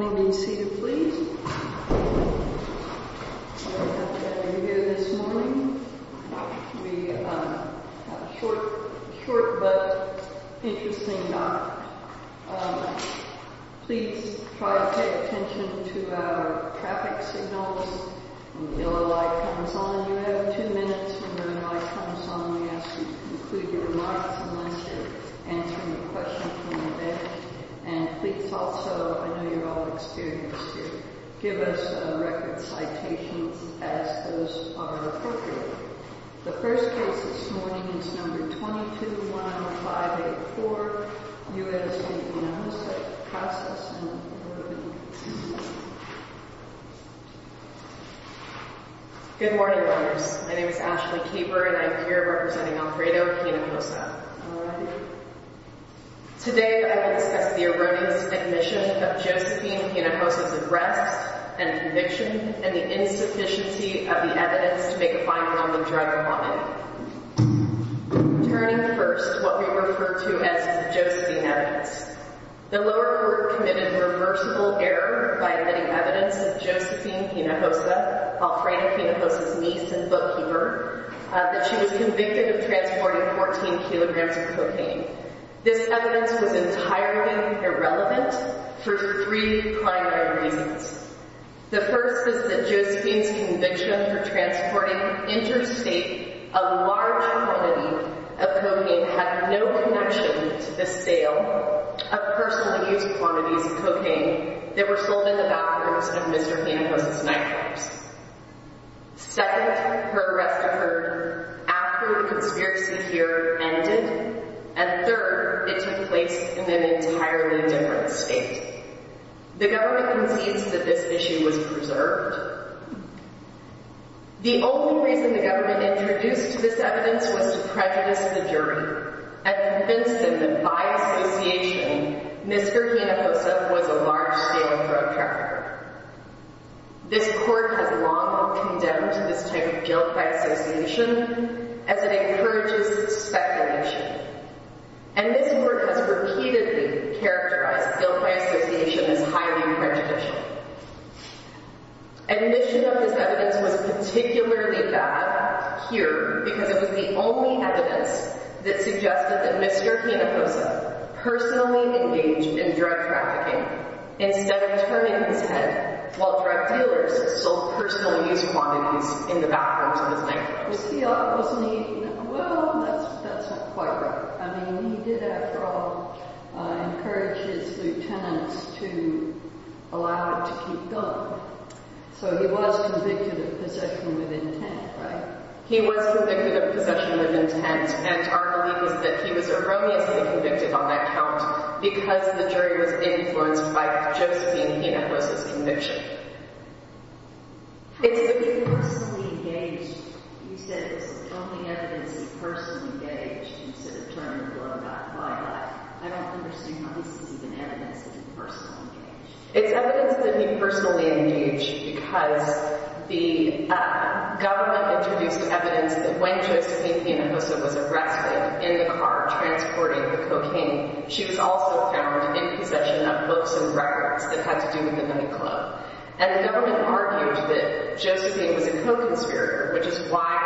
Good morning and seated please. I'm happy to have you here this morning. It's going to be a short but interesting night. Please try to pay attention to our traffic signals. When the yellow light comes on, you have two minutes. When the green light comes on, we ask you to conclude your remarks unless you're answering a question from the bed. And please also, I know you're all experienced too, give us record citations as those are appropriate. The first case this morning is number 221584, U.S. v. Hinojosa, process and wording. Good morning, lawyers. My name is Ashley Kieber and I'm here representing Alfredo Hinojosa. Today I will discuss the erroneous admission of Josephine Hinojosa's arrest and conviction and the insufficiency of the evidence to make a finding on the drug homicide. Turning first, what we refer to as the Josephine evidence. The lower court committed reversible error by admitting evidence that Josephine Hinojosa, Alfredo Hinojosa's niece and bookkeeper, that she was convicted of transporting 14 kilograms of cocaine. This evidence was entirely irrelevant for three primary reasons. The first is that Josephine's conviction for transporting interstate a large quantity of cocaine had no connection to the sale of personally used quantities of cocaine that were sold in the bathrooms of Mr. Hinojosa's nightclubs. Second, her arrest occurred after the conspiracy theory ended. And third, it took place in an entirely different state. The government concedes that this issue was preserved. The only reason the government introduced this evidence was to prejudice the jury and convince them that by association, Mr. Hinojosa was a large-scale drug trafficker. This court has long condemned this type of guilt by association as it encourages speculation. And this court has repeatedly characterized guilt by association as highly prejudicial. Admission of this evidence was particularly bad here because it was the only evidence that suggested that Mr. Hinojosa personally engaged in drug trafficking instead of turning his head while drug dealers sold personally used quantities in the bathrooms of his nightclubs. Well, that's not quite right. I mean, he did, after all, encourage his lieutenants to allow it to keep going. So he was convicted of possession with intent, right? He was convicted of possession with intent. And our belief is that he was erroneously convicted on that count because the jury was influenced by Josephine Hinojosa's conviction. It's that he personally engaged. You said it was the only evidence he personally engaged instead of turning the door knocked by that. I don't understand how this is even evidence that he personally engaged. It's evidence that he personally engaged because the government introduced evidence that when Josephine Hinojosa was arrested in the car transporting the cocaine, she was also found in possession of books and records that had to do with the nightclub. And the government argued that Josephine was a co-conspirator, which is why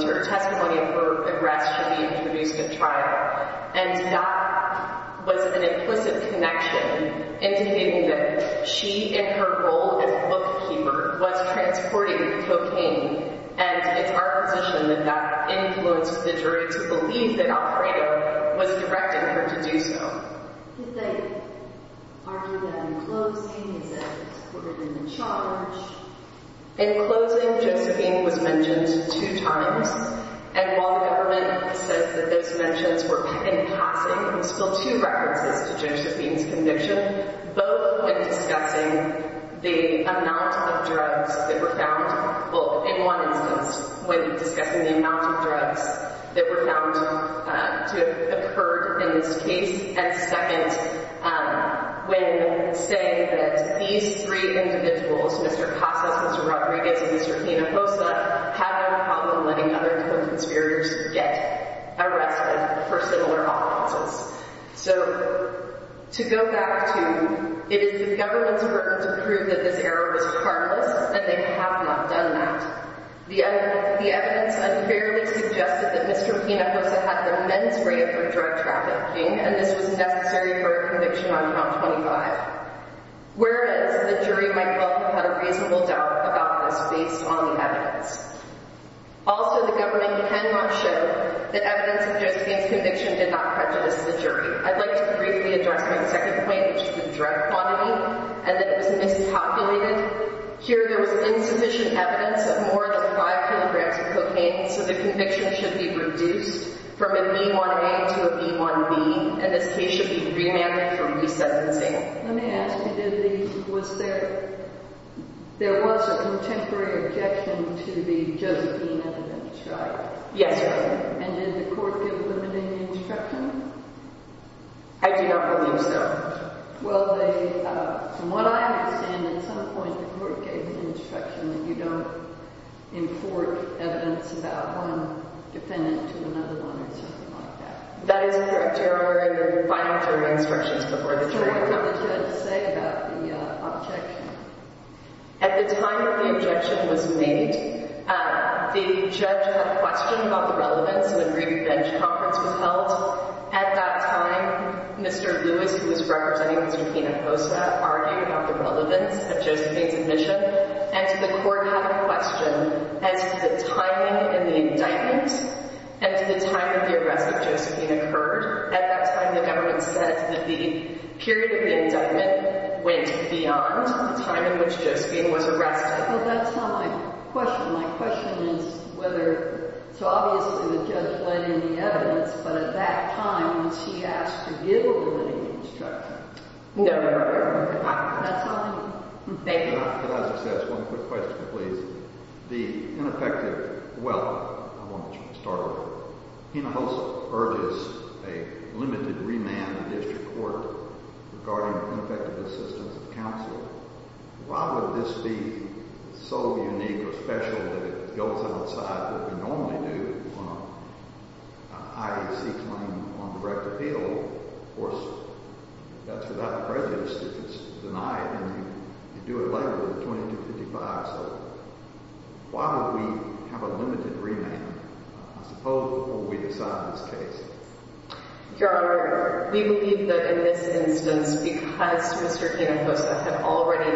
her testimony of her arrest should be introduced at trial. And that was an implicit connection indicating that she, in her role as a bookkeeper, was transporting the cocaine. And it's our position that that influenced the jury to believe that Alfredo was directing her to do so. Did they argue that in closing? Is that supported in the charge? In closing, Josephine was mentioned two times. And while the government says that those mentions were in passing, there were still two references to Josephine's conviction, both when discussing the amount of drugs that were found, well, in one instance, when discussing the amount of drugs that were found to have occurred in this case, and second, when saying that these three individuals, Mr. Casas, Mr. Rodriguez, and Mr. Hinojosa, had no problem letting other co-conspirators get arrested for similar offenses. So, to go back to, it is the government's work to prove that this error was harmless, and they have not done that. The evidence unfairly suggested that Mr. Hinojosa had the men's rate of drug trafficking, and this was necessary for a conviction on count 25. Whereas, the jury might well have had a reasonable doubt about this based on the evidence. Also, the government can not show that evidence of Josephine's conviction did not prejudice the jury. I'd like to briefly address my second point, which is the drug quantity, and that it was mispopulated. Here, there was insufficient evidence of more than 5 kilograms of cocaine, so the conviction should be reduced from an E1A to an E1B, and this case should be remanded for resentencing. Let me ask you, did the, was there, there was a contemporary objection to the Josephine evidence, right? Yes, Your Honor. And did the court give limiting instruction? I do not believe so. Well, they, from what I understand, at some point the court gave an instruction that you don't import evidence about one defendant to another one or something like that. That is correct, Your Honor. There were final jury instructions before the jury. Is there anything else you had to say about the objection? At the time that the objection was made, the judge had a question about the relevance when the Revenge Conference was held. At that time, Mr. Lewis, who was representing Mr. Pina Costa, argued about the relevance of Josephine's admission, and so the court had a question as to the timing in the indictment and to the time that the arrest of Josephine occurred. At that time, the government said that the period of the indictment went beyond the time in which Josephine was arrested. Well, that's not my question. My question is whether, so obviously the judge laid in the evidence, but at that time, was he asked to give a limiting instruction? No, Your Honor. That's all I know. Thank you. But I'll just ask one quick question, please. The ineffective—well, I want to start with it. Pina Costa urges a limited remand in district court regarding ineffective assistance of counsel. Why would this be so unique or special that it goes outside what we normally do, an IEC claim on direct appeal? Of course, that's without prejudice if it's denied, and you do it later with a 2255. So why would we have a limited remand, I suppose, before we decide this case? Your Honor, we believe that in this instance, because Mr. Pina Costa had already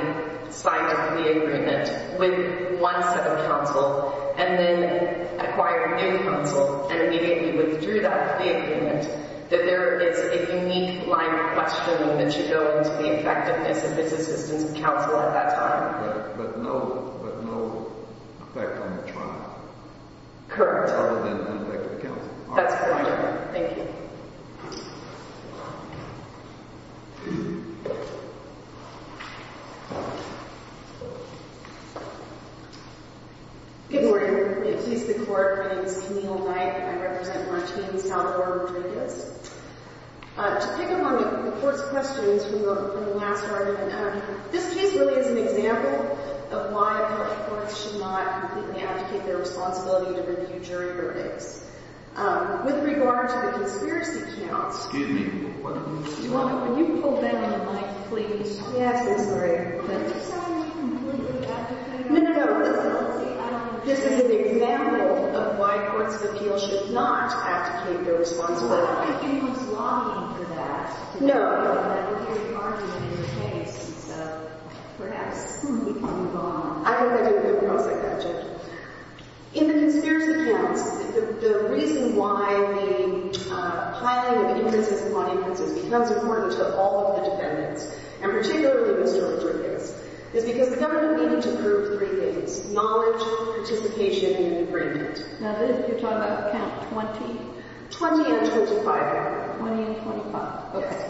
signed a plea agreement with one set of counsel and then acquired new counsel and immediately withdrew that plea agreement, that there is a unique line of questioning that should go into the effectiveness of his assistance of counsel at that time. But no effect on the trial? Correct. Other than ineffective counsel? That's correct, Your Honor. Thank you. Good morning. May it please the Court, my name is Camille Knight, and I represent Martín Salvador Rodriguez. To pick up on the Court's questions from the last argument, this case really is an example of why a court of courts should not completely abdicate their responsibility to review jury verdicts. With regard to the conspiracy counts, Excuse me, what did you say? Your Honor, will you pull back on the mic, please? Yes, I'm sorry. Are you saying you completely abdicate your responsibility? No, no, no. This is an example of why courts of appeals should not abdicate their responsibility. I thought you were just lobbying for that. No. That was your argument in the case, so perhaps we can move on. I think I did a good job. I was like that judge. In the conspiracy counts, the reason why the piling of interests upon interests becomes important to all of the defendants, and particularly Mr. Rodriguez, is because the government needed to prove three things. Knowledge, participation, and agreement. Now Liz, you're talking about the count of 20? 20 and 25, Your Honor. 20 and 25. Yes.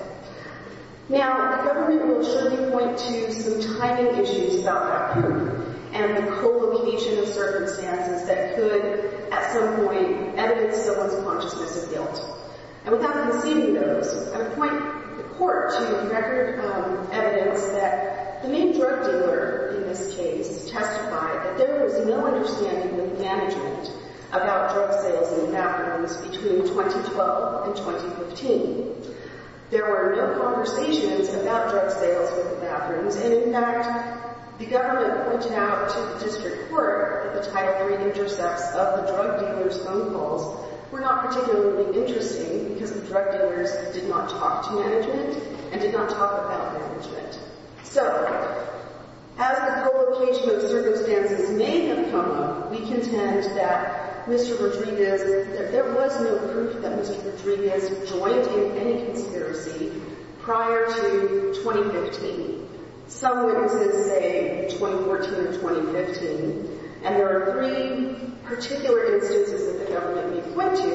Now, the government will certainly point to some tiny issues about that period and the co-relation of circumstances that could, at some point, evidence someone's consciousness of guilt. And without conceding those, I would point the court to record evidence that the main drug dealer in this case testified that there was no understanding with management about drug sales in the bathrooms between 2012 and 2015. There were no conversations about drug sales in the bathrooms, and in fact, the government pointed out to the district court that the Title III intercepts of the drug dealer's phone calls were not particularly interesting because the drug dealers did not talk to management and did not talk about management. So, as the co-location of circumstances may have come up, we contend that Mr. Rodriguez, there was no proof that Mr. Rodriguez joined in any conspiracy prior to 2015. Some witnesses say 2014 or 2015, and there are three particular instances that the government may point to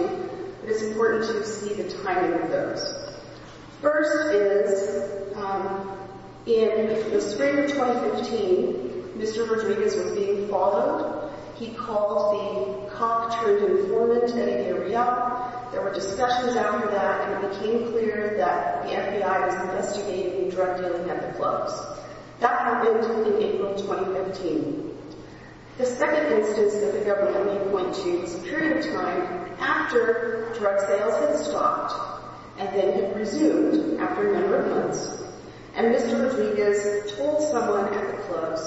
that it's important to see the timing of those. First is, in the spring of 2015, Mr. Rodriguez was being followed. He called the Cock Truth Informant in area. There were discussions after that, and it became clear that the FBI was investigating drug dealing at the clubs. That happened in April 2015. The second instance that the government may point to is a period of time after drug sales had stopped, and then it resumed after a number of months, and Mr. Rodriguez told someone at the clubs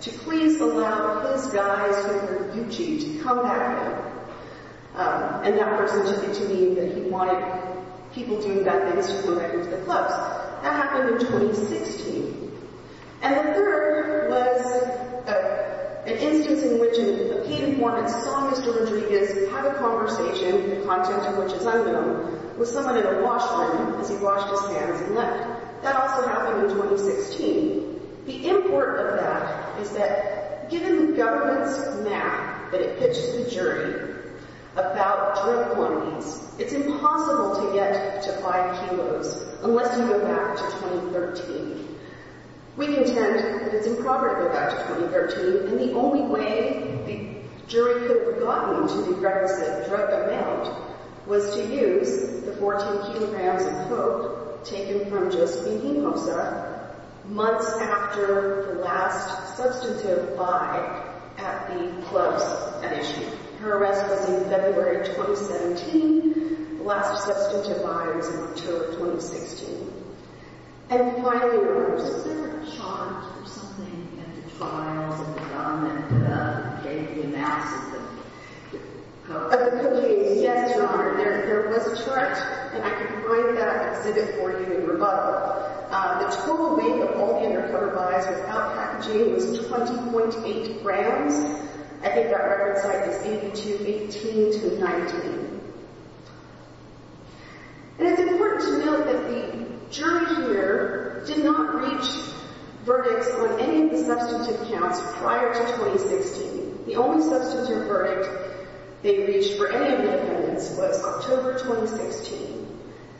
to please allow his guys from the Gucci to come back in, and that person took it to mean that he wanted people doing bad things to go back into the clubs. That happened in 2016. And the third was an instance in which a paid informant saw Mr. Rodriguez have a conversation, the content of which is unknown, with someone at a wash line as he washed his hands and left. That also happened in 2016. The import of that is that given the government's map that it pitches to the jury about drug quantities, it's impossible to get to five kilos unless you go back to 2013. We contend that it's improper to go back to 2013, and the only way a jury could have gotten to the drug amount was to use the 14 kilograms of coke taken from Josephine Hinojosa months after the last substantive buy at the clubs. Her arrest was in February 2017. The last substantive buy was in October 2016. And finally, was there a chart or something of the trials and the government that gave the analysis of the cocaine? Yes, Your Honor. There was a chart, and I can write that and send it for you in rebuttal. The total weight of all the undercover buys without packaging was 20.8 grams. I think that record size is 82, 18 to 19. And it's important to note that the jury here did not reach verdicts on any of the substantive counts prior to 2016. The only substantive verdict they reached for any of the defendants was October 2016.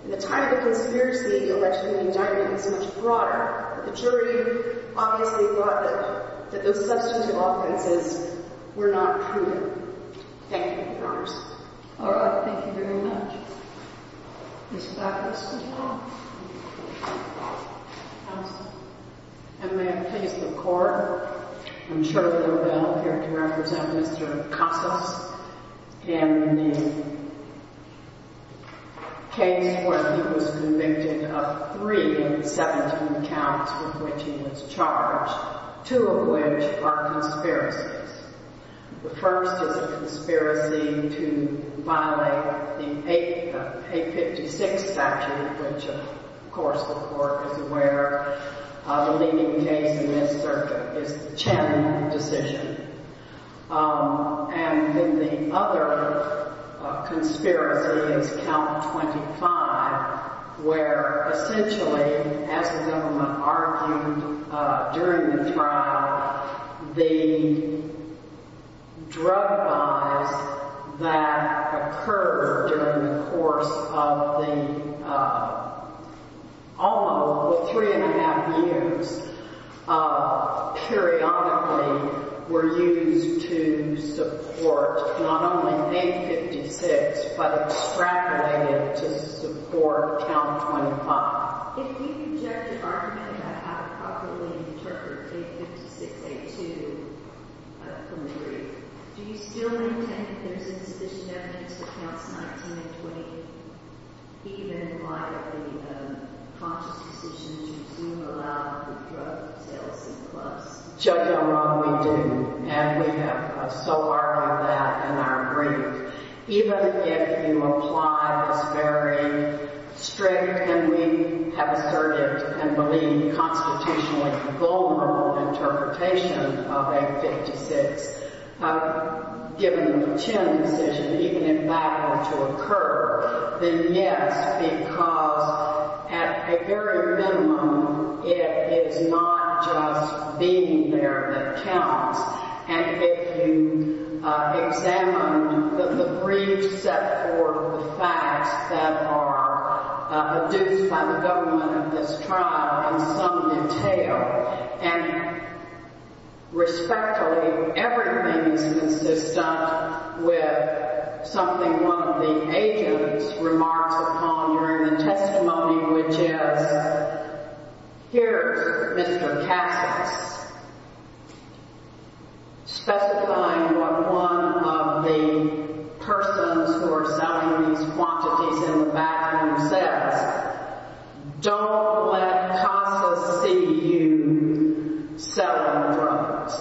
And the title of conspiracy alleged in the indictment is much broader, but the jury obviously thought that those substantive offenses were not proven. Thank you, Your Honors. All right. Thank you very much. Ms. Bacchus, would you come up? Yes. And may I please record? I'm Shirley Robel here to represent Mr. Casas in the case where he was convicted of three of the 17 counts with which he was charged, two of which are conspiracies. The first is a conspiracy to violate the 856 statute, which, of course, the court is aware of. The leading case in this circuit is the Chen decision. And then the other conspiracy is Count 25, where essentially, as the gentleman argued during the trial, the drug buys that occurred during the course of the almost three and a half years periodically were used to support not only 856, but extrapolated to support Count 25. If you can judge the argument about how to properly interpret 856A2 from the jury, do you still intend that there's insufficient evidence for Counts 19 and 20, even via the conscious decision to do or allow the drug sales in the clubs? Judge, I'm wrong. We do. And we have so far on that in our agreement. Even if you apply this very strict, and we have asserted and believe constitutionally vulnerable interpretation of 856, given the Chen decision, even if that were to occur, then yes, because at a very minimum, it is not just being there that counts. And if you examine the briefs set forth with facts that are produced by the government of this trial, in some detail, and respectfully, everything is consistent with something one of the agents remarks upon during the testimony, which is, here's Mr. Casas specifying what one of the persons who are selling these quantities in the bathroom says, don't let Casas see you selling drugs.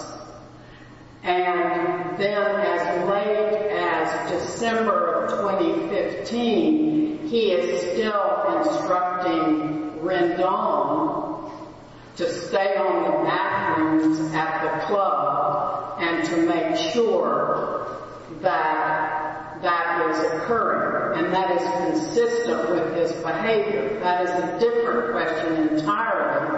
And then as late as December of 2015, he is still instructing Rendon to stay on the bathrooms at the club and to make sure that that is occurring, and that is consistent with his behavior. That is a different question entirely,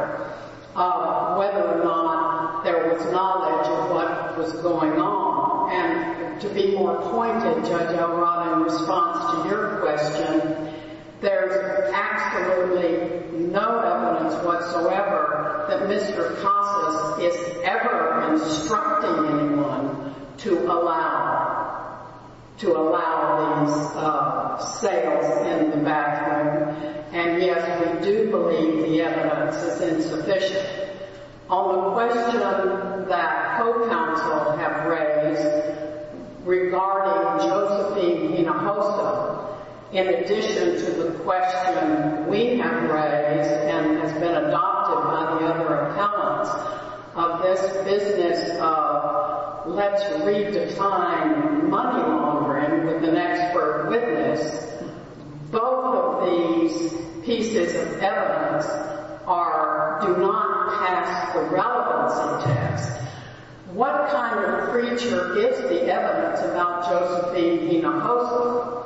whether or not there was knowledge of what was going on. And to be more pointed, Judge O'Rourke, in response to your question, there's absolutely no evidence whatsoever that Mr. Casas is ever instructing anyone to allow these sales in the bathroom. And yes, we do believe the evidence is insufficient. On the question that co-counsel have raised regarding Josephine Pinojosa, in addition to the question we have raised and has been adopted by the other appellants of this business of let's redefine money laundering with the next word witness, both of these pieces of evidence do not pass the relevancy test. What kind of creature is the evidence about Josephine Pinojosa?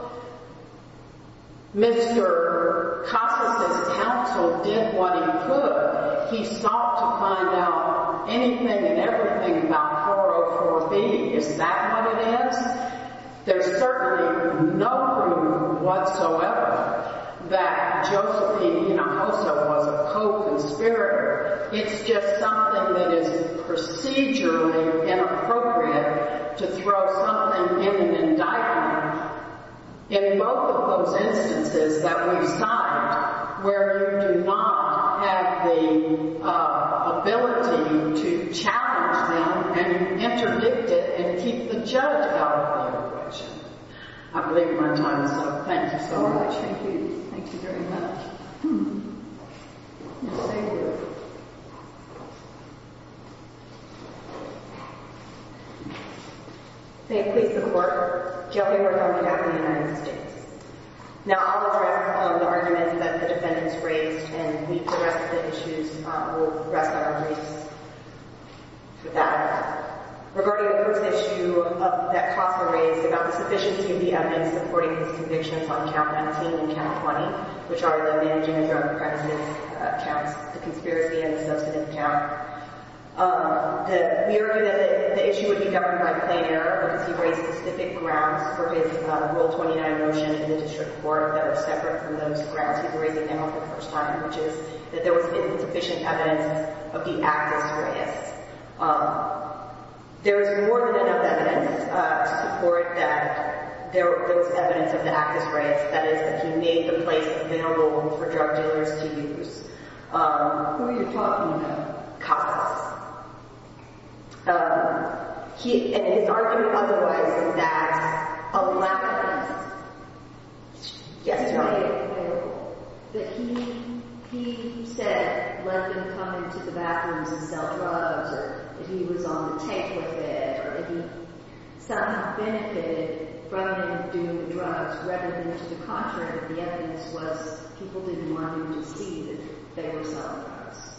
Mr. Casas' counsel did what he could. He sought to find out anything and everything about 404B. Is that what it is? There's certainly no room whatsoever that Josephine Pinojosa was a co-conspirator. It's just something that is procedurally inappropriate to throw something in an indictment. In both of those instances that we've signed where you do not have the ability to challenge them and interdict it and keep the judge out of the operation. I believe we're done, so thank you so much. Thank you. Thank you very much. Yes, thank you. May it please the Court. Jeffrey Wertheimer, Captain of the United States. Now, I'll address all of the arguments that the defendants raised, and the rest of the issues will rest on our briefs with that. Regarding the first issue that Casas raised about the sufficiency of the evidence in supporting his convictions on Count 19 and Count 20, which are the managing a drug crisis counts, the conspiracy and the substantive count, we argue that the issue would be governed by plain error because he raised specific grounds for his Rule 29 motion in the district court that were separate from those grounds he was raising them on for the first time, which is that there was insufficient evidence of the act as serious. There is more than enough evidence to support that there was evidence of the act as serious, that is, that he made the place available for drug dealers to use. Who are you talking about? Casas. His argument otherwise is that a lack of evidence made it available, that he said let them come into the bathrooms and sell drugs, or that he was on the table with them, or that he somehow benefited from doing the drugs rather than to the contrary, that the evidence was people didn't want him to see that they were selling drugs.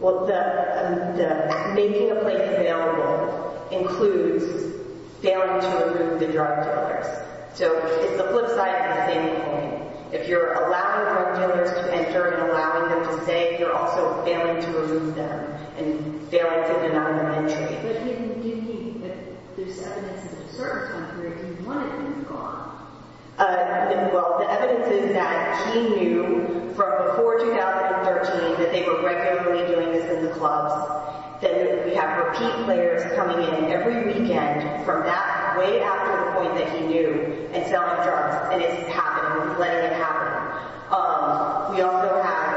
Well, the making a place available includes failing to approve the drug to others. So it's the flip side of the same coin. If you're allowing drug dealers to enter and allowing them to stay, you're also failing to remove them and failing to deny them entry. But you mean that there's evidence that at a certain time period he wanted them gone? Well, the evidence is that he knew from before 2013 that they were regularly doing this in the clubs, that we have repeat players coming in every weekend from that way after the point that he knew and selling drugs and it's happening, letting it happen. We also have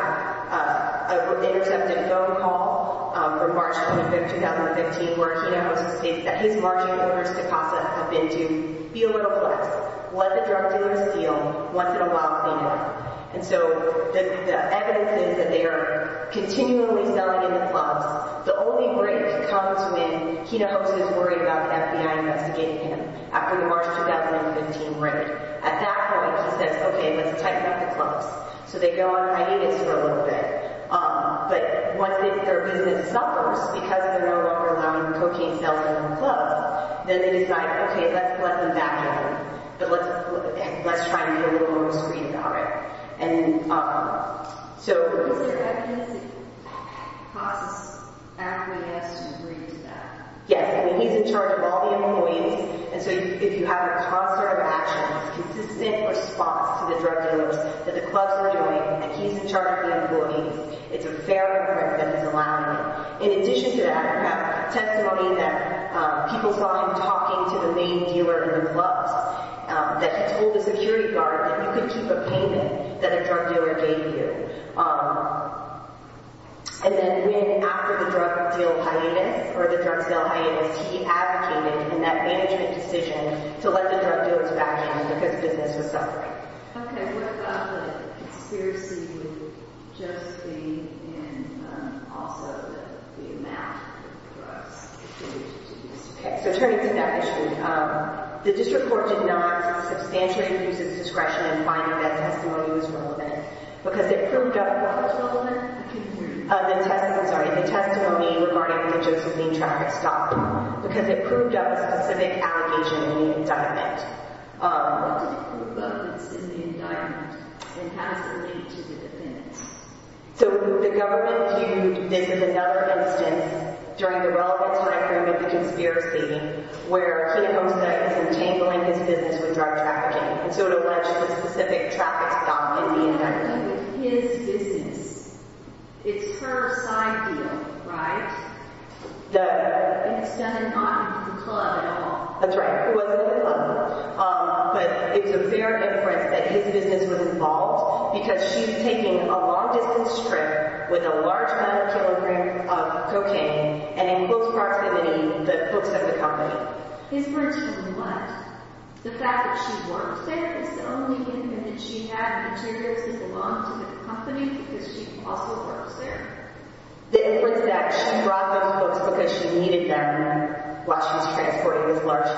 intercepted a phone call from March 25, 2015, where Quino Jose states that he's marching in the University of Casa to be a little flex, was a drug dealer's deal, once in a while clean it up. And so the evidence is that they are continually selling in the clubs. The only break comes when Quino Jose is worried about the FBI investigating him after the March 2015 break. At that point, he says, okay, let's tighten up the clubs. So they go on hiatus for a little bit. But once their business suffers because they're no longer allowing cocaine sales in the clubs, then they decide, okay, let's let them back out. Let's try to get a little more restraint on it. So... Yes, he's in charge of all the employees. And so if you have a process of action, a consistent response to the drug dealers that the clubs are doing, and he's in charge of the employees, it's a fair effect that he's allowing. In addition to that, I have testimony that people saw him talking to the main dealer in the clubs that told the security guard that you could keep a payment that a drug dealer gave you. And then when, after the drug deal hiatus, or the drug sale hiatus, he advocated in that management decision to let the drug dealers back out because business was suffering. Okay, what about the conspiracy with Josephine and also the amount of drugs? Okay, so turning to that issue. The district court did not substantially use its discretion in finding that testimony was relevant because it proved up... What was relevant? I can't hear you. The testimony, sorry. The testimony regarding the Josephine traffic stop, because it proved up a specific allegation in the indictment. What did it prove up in the indictment? It has to do with the defendant. So the government viewed this as another instance during the relevance record with the conspiracy where Josephine is entangling his business with drug trafficking. And so it alleged a specific traffic stop in the indictment. It has to do with his business. It's her side deal, right? It's done not with the club at all. That's right, it wasn't the club. But it's a fair inference that his business was involved because she's taking a long distance trip with a large amount of kilograms of cocaine and it was brought to the books of the company. His books of what? The fact that she works there is the only evidence she had and materials that belonged to the company because she also works there. The inference that she brought those books because she needed them while she was transporting those large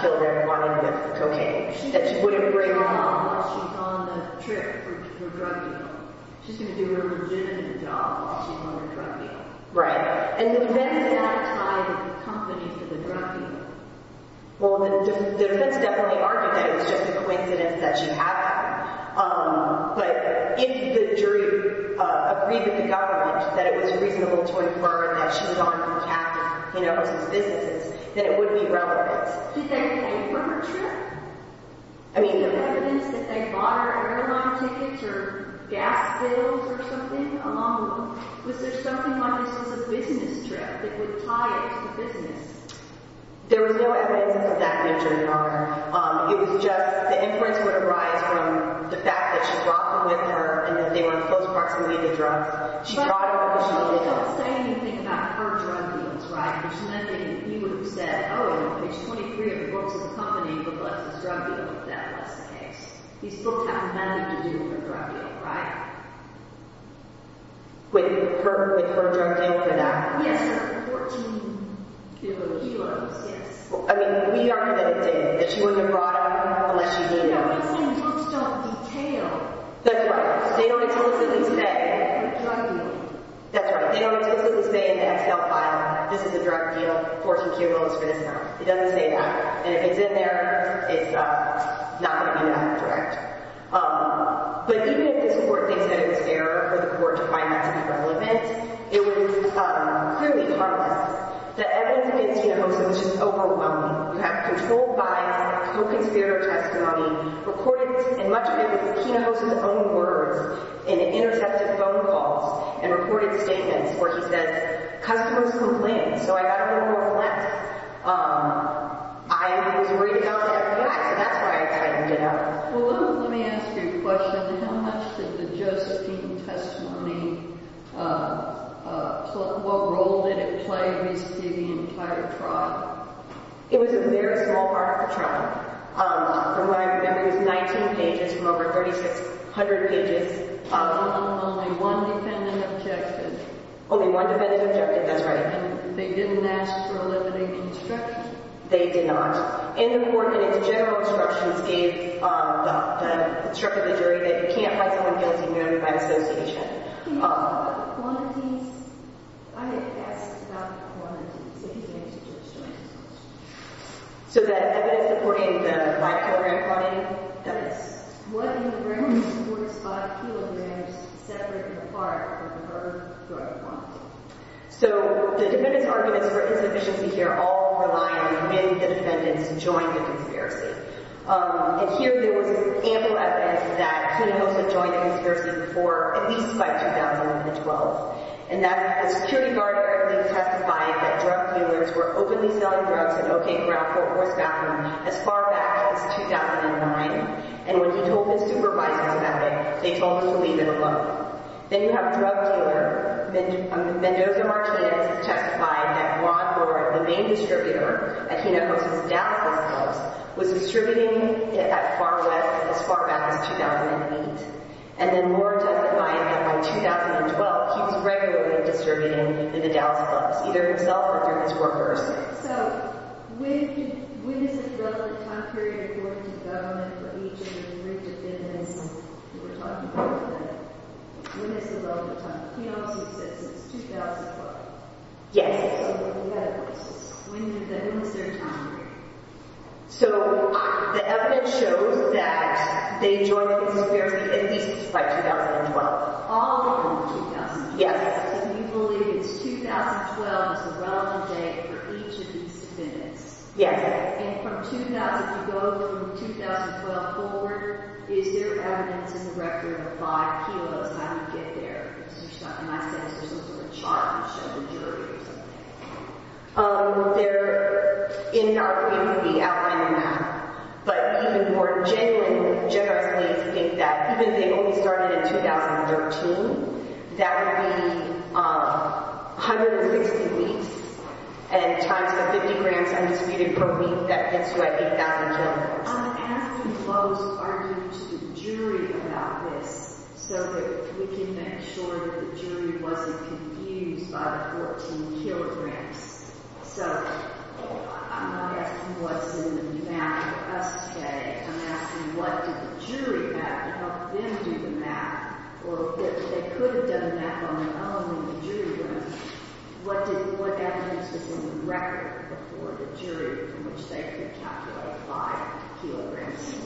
kilograms of cocaine. She's going to do a legitimate job while she's on the trip for drug dealing. She's going to do a legitimate job while she's on the drug dealing. Right. And the events that are tied to the company for the drug dealing. Well, the defense definitely argued that it was just a coincidence that she had that. But if the jury agreed with the government that it was reasonable to infer that she's gone for cash with his businesses, then it would be relevant. Did they pay for her trip? Was there evidence that they bought her airline tickets or gas bills or something? Was there something on this as a business trip that would tie it to business? There was no evidence of that, Judge Carter. It was just the inference would arise from the fact that she brought them with her and that they were in close proximity to drugs. She brought them because she needed them. She didn't say anything about her drug dealings, right? She said, oh, page 23 of the books of the company booklets is drug dealing. That was the case. These books have nothing to do with her drug dealing, right? With her drug dealing for that? Yes, her 14 kilos, yes. I mean, we are convinced that she wasn't brought unless she needed them. These books don't detail. That's right. They only tell us in this day. Her drug dealing. That's right. They only tell us in this day and that's not filed. This is a drug deal. 14 kilos for this amount. It doesn't say that. And if it's in there, it's not going to be enough to correct. But even if this court thinks that it's fair for the court to find that to be relevant, it was clearly harmless. The evidence against Hinojosa was just overwhelming. You have controlled vibes, you have co-conspirator testimony, recorded, and much of it was Hinojosa's own words in intercepted phone calls and recorded statements where he says, customers complain. So, I got a little more blunt. I was worried about that. So, that's where I tightened it up. Well, let me ask you a question. How much did the Justine testimony, what role did it play in receiving the entire trial? It was a very small part of the trial. From what I remember, it was 19 pages from over 3,600 pages. Only one defendant objected. Only one defendant objected, that's right. And they didn't ask for a limiting instruction. They did not. And the court, in its general instructions, gave the instructor, the jury, that you can't have someone guilty merely by dispossession. Can you talk about the quantities? I had asked about the quantities against Justine. So, that evidence supporting the five-kilogram quantity? Yes. What do you bring towards five kilograms separate and apart from her drug quantity? So, the defendants' arguments for insufficiency here all rely on when the defendants joined the conspiracy. And here, there was ample evidence that Kunihosa joined the conspiracy before, at least by 2011-12. And that the security guard directly testified that drug dealers were openly selling drugs as far back as 2009. And when he told his supervisors about it, they told him to leave it alone. Then you have drug dealer Mendoza Martinez who testified that Ron Lord, the main distributor at Kunihosa's Dallas Clubs, was distributing it at Far West as far back as 2008. And then Lord testified that by 2012, he was regularly distributing in the Dallas Clubs, either himself or through his workers. So, when is the relevant time period according to the government for each of the three defendants that we're talking about today? When is the relevant time period? Kunihosa says it's 2012. Yes. So, when is their time period? So, the evidence shows that they joined the conspiracy at least by 2012. All of them in 2012? Yes. Because you believe it's 2012 is the relevant date for each of these defendants. Yes. And from 2000, you go from 2012 forward, is there evidence as a record of 5 kilos how you get there? In my sense, there's no sort of chart you show the jury or something. There, in our community, outlined on that. But even more genuinely, we would generously think that even if they only started in 2013, that would be 160 weeks and times the 50 grams undisputed per week that gets you at 8,000 kilos. I'm asking those arguing to the jury about this so that we can make sure that the jury wasn't confused by the 14 kilograms. So, I'm not asking what's in the math for us today. I'm asking what did the jury have to help them do the math? Or if they could have done the math on their own in the jury room, what evidence is in the record for the jury from which they could calculate 5 kilograms?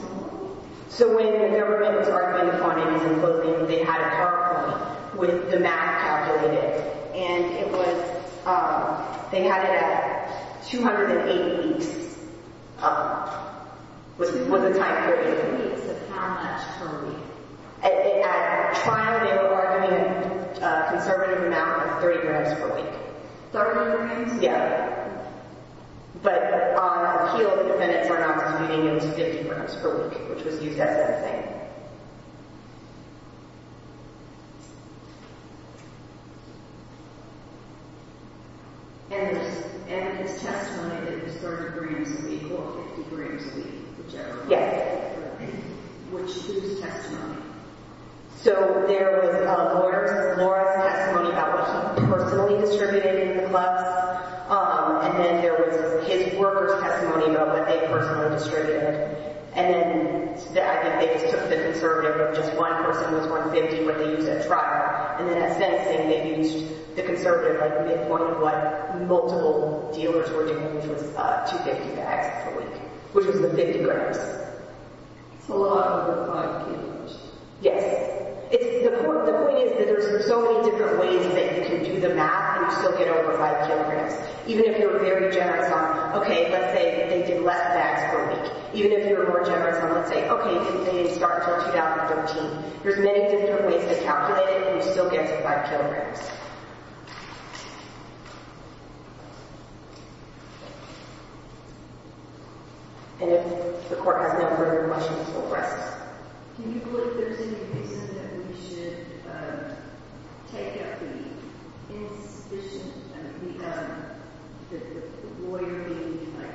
So, when the government was arguing the findings and voting, they had a chart coming with the math calculated. And it was, they had it at 208 weeks. Was it time period? Yes, it was. How much per week? At trial, they were arguing a conservative amount of 30 grams per week. 30 grams? Yeah. But on appeal, the defendants were not disputing it was 50 grams per week, which was used as their thing. Okay. And his testimony, it was 30 grams per week or 50 grams per week, whichever one. Yes. Which, whose testimony? So, there was a lawyer's testimony about what he personally distributed in the class. And then there was his worker's testimony about what they personally distributed. And then, I think they took the conservative of just one person was 150 when they used at trial. And then at sentencing, they used the conservative, like the midpoint of what multiple dealers were doing, which was 250 bags per week, which was the 50 grams. So, a lot over 5 kilograms. Yes. The point is that there's so many different ways that you can do the math and still get over 5 kilograms. Even if you're very generous on, okay, let's say that they did less bags per week. Even if you're more generous on, let's say, okay, they didn't start until 2013. There's many different ways to calculate it and you still get to 5 kilograms. And if the court has no further questions, we'll press. Can you believe there's any reason that we should take up the insubstantial? I mean, the lawyer being, like,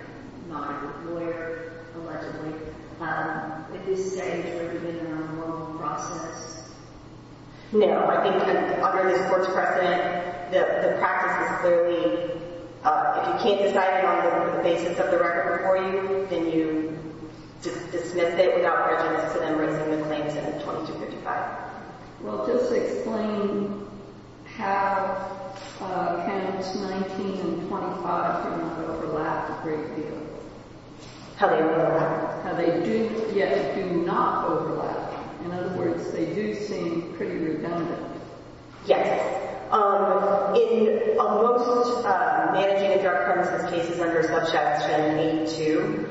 not a lawyer, allegedly. At this stage, would it have been an unlawful process? No. I think under this court's precedent, the practice is clearly, if you can't decide it on the basis of the record before you, then you dismiss it without prejudice to them raising the claims in 2255. Well, just explain how 10, 19, and 25 do not overlap a great deal. How they overlap? How they do yet do not overlap. In other words, they do seem pretty redundant. Yes. In most managing a drug premises cases under subsection 82, you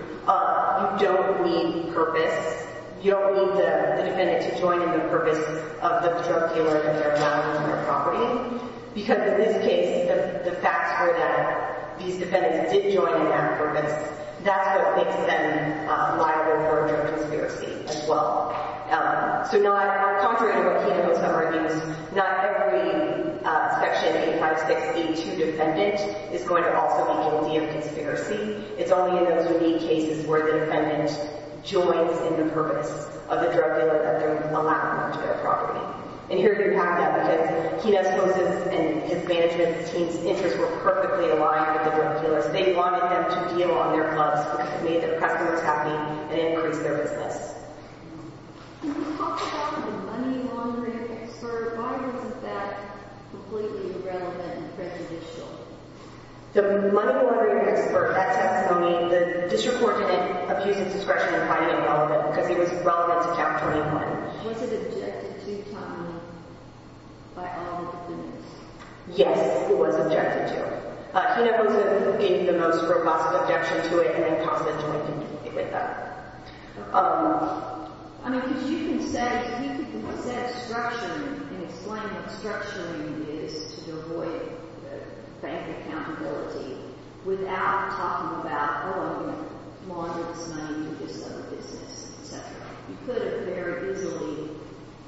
don't need purpose. You don't need the defendant to join in the purpose of the drug dealer and their value on their property. Because in this case, the facts were that these defendants did join in that purpose. That's what makes them liable for a drug conspiracy as well. So contrary to what Kena would have argued, not every subsection 856-82 defendant is going to also engage in a conspiracy. It's only in those unique cases where the defendant joins in the purpose of the drug dealer that they're allowing them to their property. And here you have the evidence. Kena's closest and his management team's interests were perfectly aligned with the drug dealers. They wanted them to deal on their clubs because it made the customers happy and increased their business. Can you talk about the money laundering expert? Why was that completely irrelevant and prejudicial? The money laundering expert, that's what I mean. The district court didn't abuse its discretion in finding it relevant because it was relevant to Chapter 21. Was it objected to timely by all the defendants? Yes, it was objected to. Kena was the one who gave the most robust objection to it and then constantly continued with that. I mean, because you can say – you can present obstruction and explain what obstruction is to avoid bank accountability without talking about, oh, I'm going to launder this money and do this other business, et cetera. You could have very easily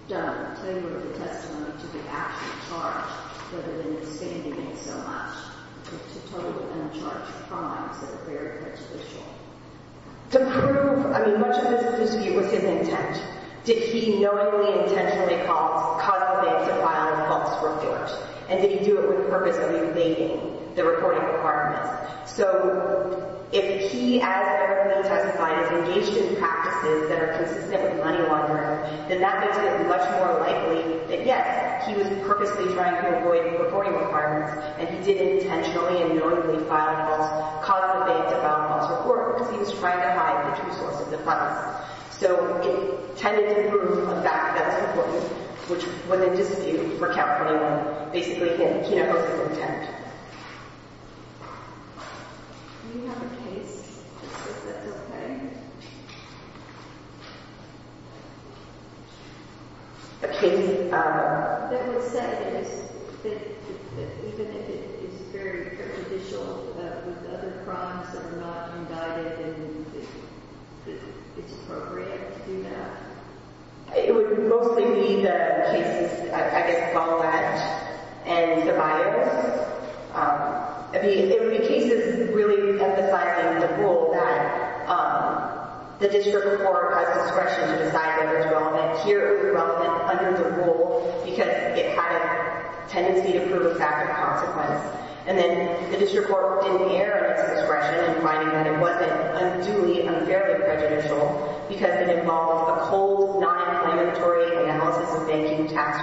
done – tailored the testimony to the actual charge rather than expanding it so much to totally uncharged crimes that are very prejudicial. To prove – I mean, much of this dispute was his intent. Did he knowingly, intentionally cause the bank to file false reports? And did he do it with the purpose of evading the reporting requirements? So if he, as a member of the entire society, is engaged in practices that are consistent with money laundering, then that makes it much more likely that, yes, he was purposely trying to avoid the reporting requirements and he did intentionally and knowingly file false – cause the bank to file false reports because he was trying to hide the true sources of funds. So it tended to prove a fact that it was reported, which would then disappear for Chapter 21. Basically, Kena knows his intent. Do you have a case that says that's okay? A case – That would say that even if it is very prejudicial, that with other crimes that are not undided, then it's appropriate to do that. It would mostly be the cases, I guess, of all that and the buyers. I mean, it would be cases really emphasizing the rule that the district court has discretion to decide whether it's relevant here or whether it's relevant under the rule because it had a tendency to prove a fact of consequence. And then the district court didn't air its discretion in finding that it wasn't unduly, unfairly prejudicial because it involved a cold, non-implementary analysis of banking tax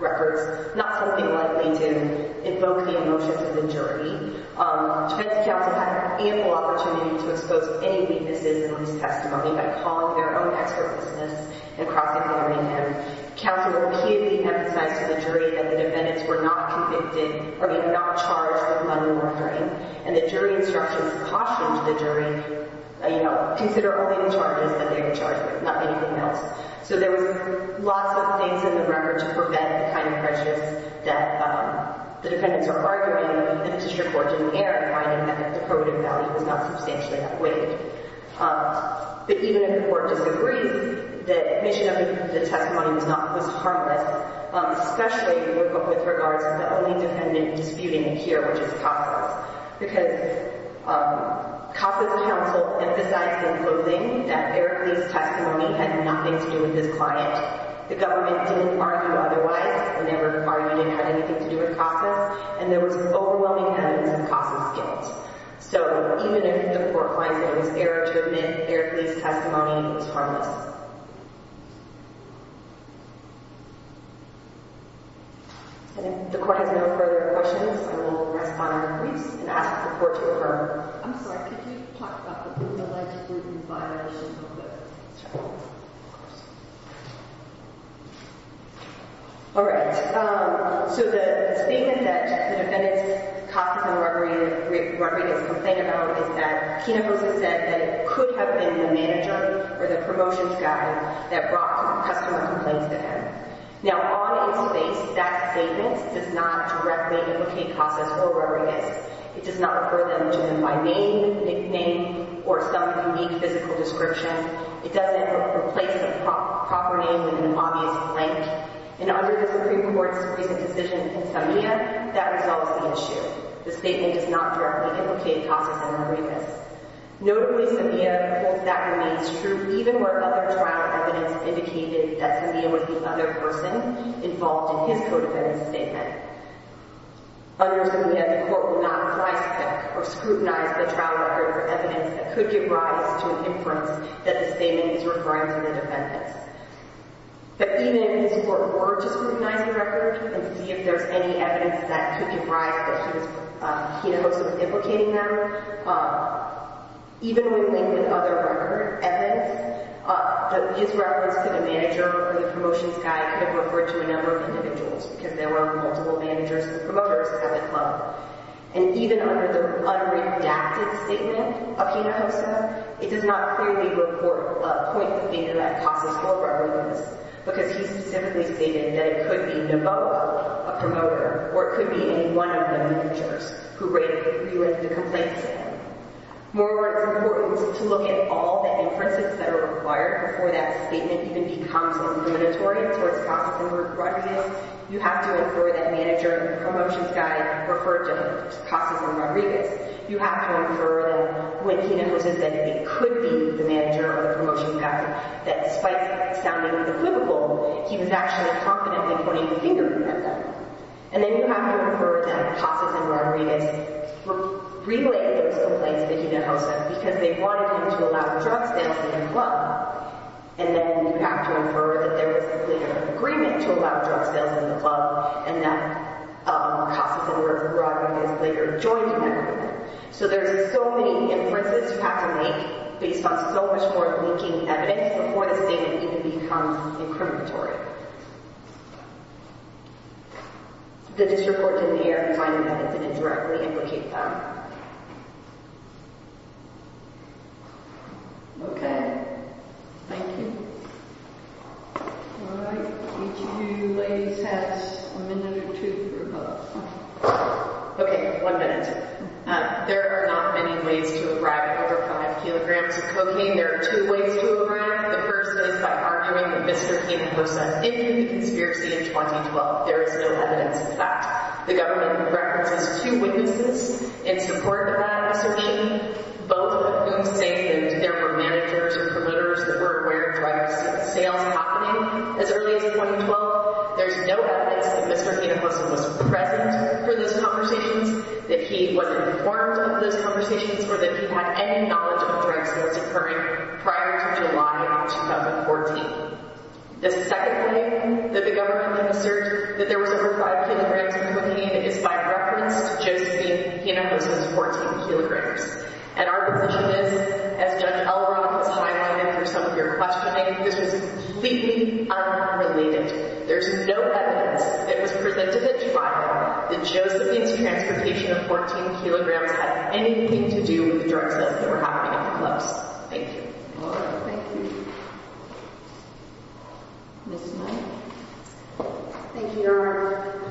records, not something likely to invoke the emotions of the jury. Defense counsel had ample opportunity to expose any weaknesses in his testimony by calling their own expert witnesses and prosecuting him. Counsel repeatedly emphasized to the jury that the defendants were not convicted – I mean, not charged with money laundering. And the jury instructions cautioned the jury, you know, consider only the charges that they were charged with, not anything else. So there was lots of things in the record to prevent the kind of prejudice that the defendants were arguing, and the district court didn't air in finding that that deprobative value was not substantially outweighed. But even if the court disagrees, the admission of the testimony was not – was harmless, especially with regards to the only defendant disputing here, which is Casas. Because Casas counsel emphasized in closing that Eric Lee's testimony had nothing to do with his client. The government didn't argue otherwise. They never argued it had anything to do with Casas. And there was overwhelming evidence of Casas' guilt. So even if the court finds that it was error to admit Eric Lee's testimony, it was harmless. And if the court has no further questions, I will respond to briefs and ask the court to affirm. I'm sorry. Could you talk about the criminalized group in violation of the – Sure. Of course. All right. So the statement that the defendants, Casas and Rodriguez, complained about is that Kenab Rosa said that it could have been the manager or the promotions guy that brought the customer complaints to him. Now, on its face, that statement does not directly implicate Casas or Rodriguez. It does not refer them to him by name or some unique physical description. It doesn't replace the proper name with an obvious blank. And under the Supreme Court's recent decision in Samia, that resolves the issue. The statement does not directly implicate Casas and Rodriguez. Notably, Samia holds that remains true even where other trial evidence indicated that Samia was the other person involved in his co-defendant's statement. Under Samia, the court will not apply spec or scrutinize the trial record for evidence that could give rise to an inference that the statement is referring to the defendants. But even if the court were to scrutinize the record and see if there's any evidence that could give rise to Kenab Rosa implicating them, even when linked with other record evidence, his reference to the manager or the promotions guy could have referred to a number of individuals because there were multiple managers and promoters at the club. And even under the unredacted statement of Kenab Rosa, it does not clearly report a point of data that Casas or Rodriguez, because he specifically stated that it could be Neboa, a promoter, or it could be any one of the managers who related the complaint to him. Moreover, it's important to look at all the inferences that are required before that statement even becomes illuminatory towards Casas or Rodriguez. You have to infer that the manager or the promotions guy referred to Casas or Rodriguez. You have to infer that when Kenab Rosa said it could be the manager or the promotions guy, that despite sounding equivocal, he was actually confidently pointing the finger at them. And then you have to infer that Casas and Rodriguez relayed those complaints to Kenab Rosa because they wanted him to allow drug stamps in the club. And then you have to infer that there was a clear agreement to allow drug sales in the club and that Casas or Rodriguez later joined in that agreement. So there's so many inferences you have to make based on so much more linking evidence before the statement even becomes incriminatory. The district court did not find evidence and indirectly implicate them. Okay. Thank you. All right. Each of you ladies have a minute or two to rebut. Okay. One minute. There are not many ways to arrive at over five kilograms of cocaine. There are two ways to arrive at the person is by arguing that Mr. Kenab Rosa did do the conspiracy in 2012. There is no evidence of that. The government references two witnesses in support of that assertion, both of whom say that there were managers and promoters that were aware of drugs sales happening as early as 2012. There's no evidence that Mr. Kenab Rosa was present for those conversations, that he was informed of those conversations, or that he had any knowledge of drugs that was occurring prior to July of 2014. The second way that the government can assert that there was over five kilograms of cocaine is by reference to Josephine Kenab Rosa's 14 kilograms. And our position is, as Judge Elrod was fine-tuning for some of your questioning, this was completely unrelated. There's no evidence that was presented at trial that Josephine's transportation of 14 kilograms had anything to do with the drug sales that were happening at the clubs. Thank you. All right. Thank you. Ms. Knight. Thank you, Your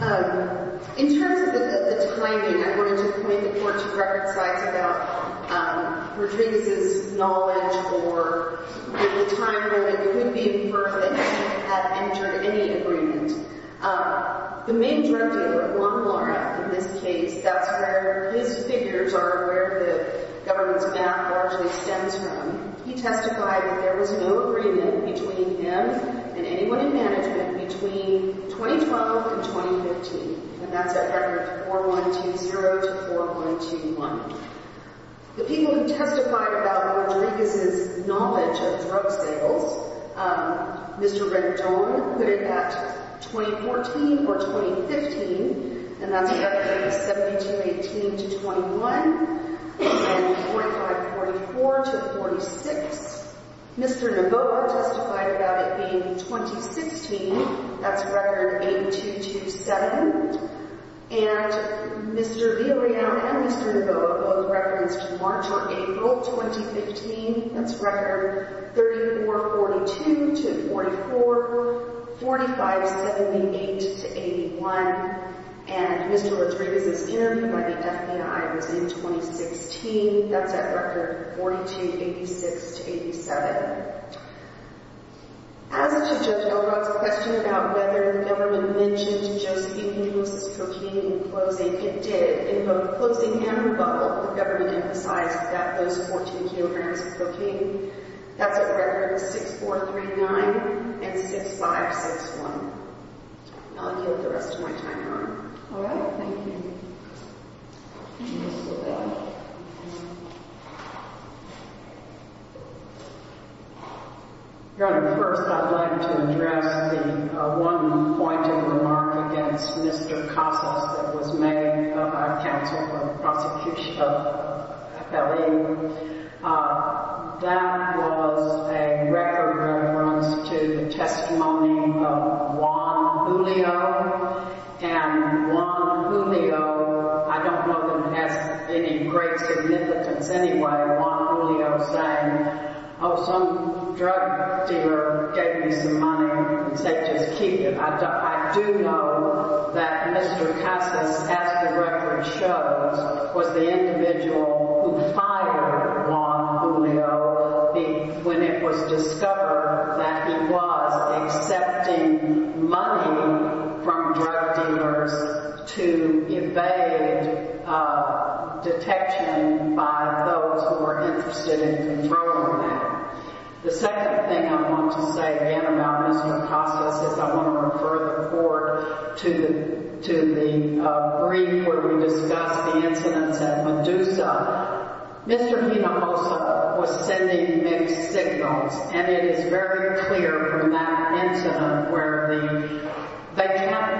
Honor. In terms of the timing, I wanted to point the court to record sites about Rodriguez's knowledge or the time when it could be inferred that he had entered any agreement. The main drug dealer, Juan Lara, in this case, that's where his figures are where the government's map largely stems from, he testified that there was no agreement between him and anyone in management between 2012 and 2015. And that's at records 4120 to 4121. The people who testified about Rodriguez's knowledge of drug sales, Mr. Rendon put it at 2014 or 2015, and that's records 1718 to 21 and 2544 to 46. Mr. Neboa testified about it being 2016. That's record 8227. And Mr. Villarreal and Mr. Neboa both referenced March on April 2015. That's record 3442 to 44, 4578 to 81. And Mr. Rodriguez's interview by the FBI was in 2016. That's at record 4286 to 87. As to Judge Elrod's question about whether the government mentioned Josephine's cocaine in closing, it did. In both closing and rebuttal, the government emphasized that those 14 kilograms of cocaine, that's at records 6439 and 6561. I'll let you have the rest of my time, Your Honor. All right. Thank you. Your Honor, first I'd like to address the one point of remark against Mr. Casas that was made by counsel from the prosecution of Capelli. That was a record reference to the testimony of Juan Julio. And Juan Julio, I don't know that he has any great significance anyway. Juan Julio saying, oh, some drug dealer gave me some money and said just keep it. I do know that Mr. Casas, as the record shows, was the individual who fired Juan Julio when it was discovered that he was accepting money from drug dealers to evade detection by those who were interested in controlling that. The second thing I want to say again about Mr. Casas is I want to refer the Court to the brief where we discussed the incidents at Medusa. Mr. Hinojosa was sending mixed signals, and it is very clear from that incident where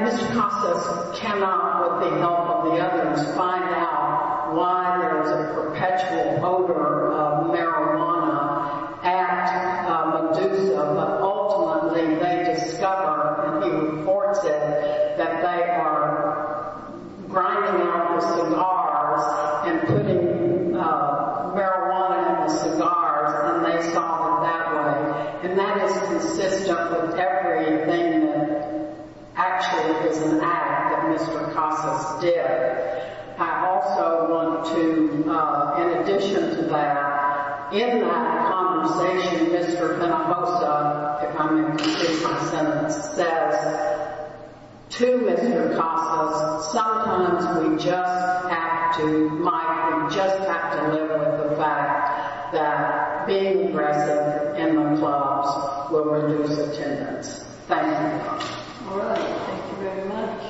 Mr. Casas cannot, with the help of the others, find out why there was a perpetual odor of marijuana at Medusa. But ultimately they discover, and he reports it, that they are grinding out the cigars and putting marijuana in the cigars, and they saw them that way. And that is consistent with everything that actually is an act that Mr. Casas did. I also want to, in addition to that, in that conversation, Mr. Hinojosa, if I may complete my sentence, says to Mr. Casas, sometimes we just have to, Mike, we just have to live with the fact that being aggressive in the clubs will reduce attendance. Thank you. All right. Thank you very much.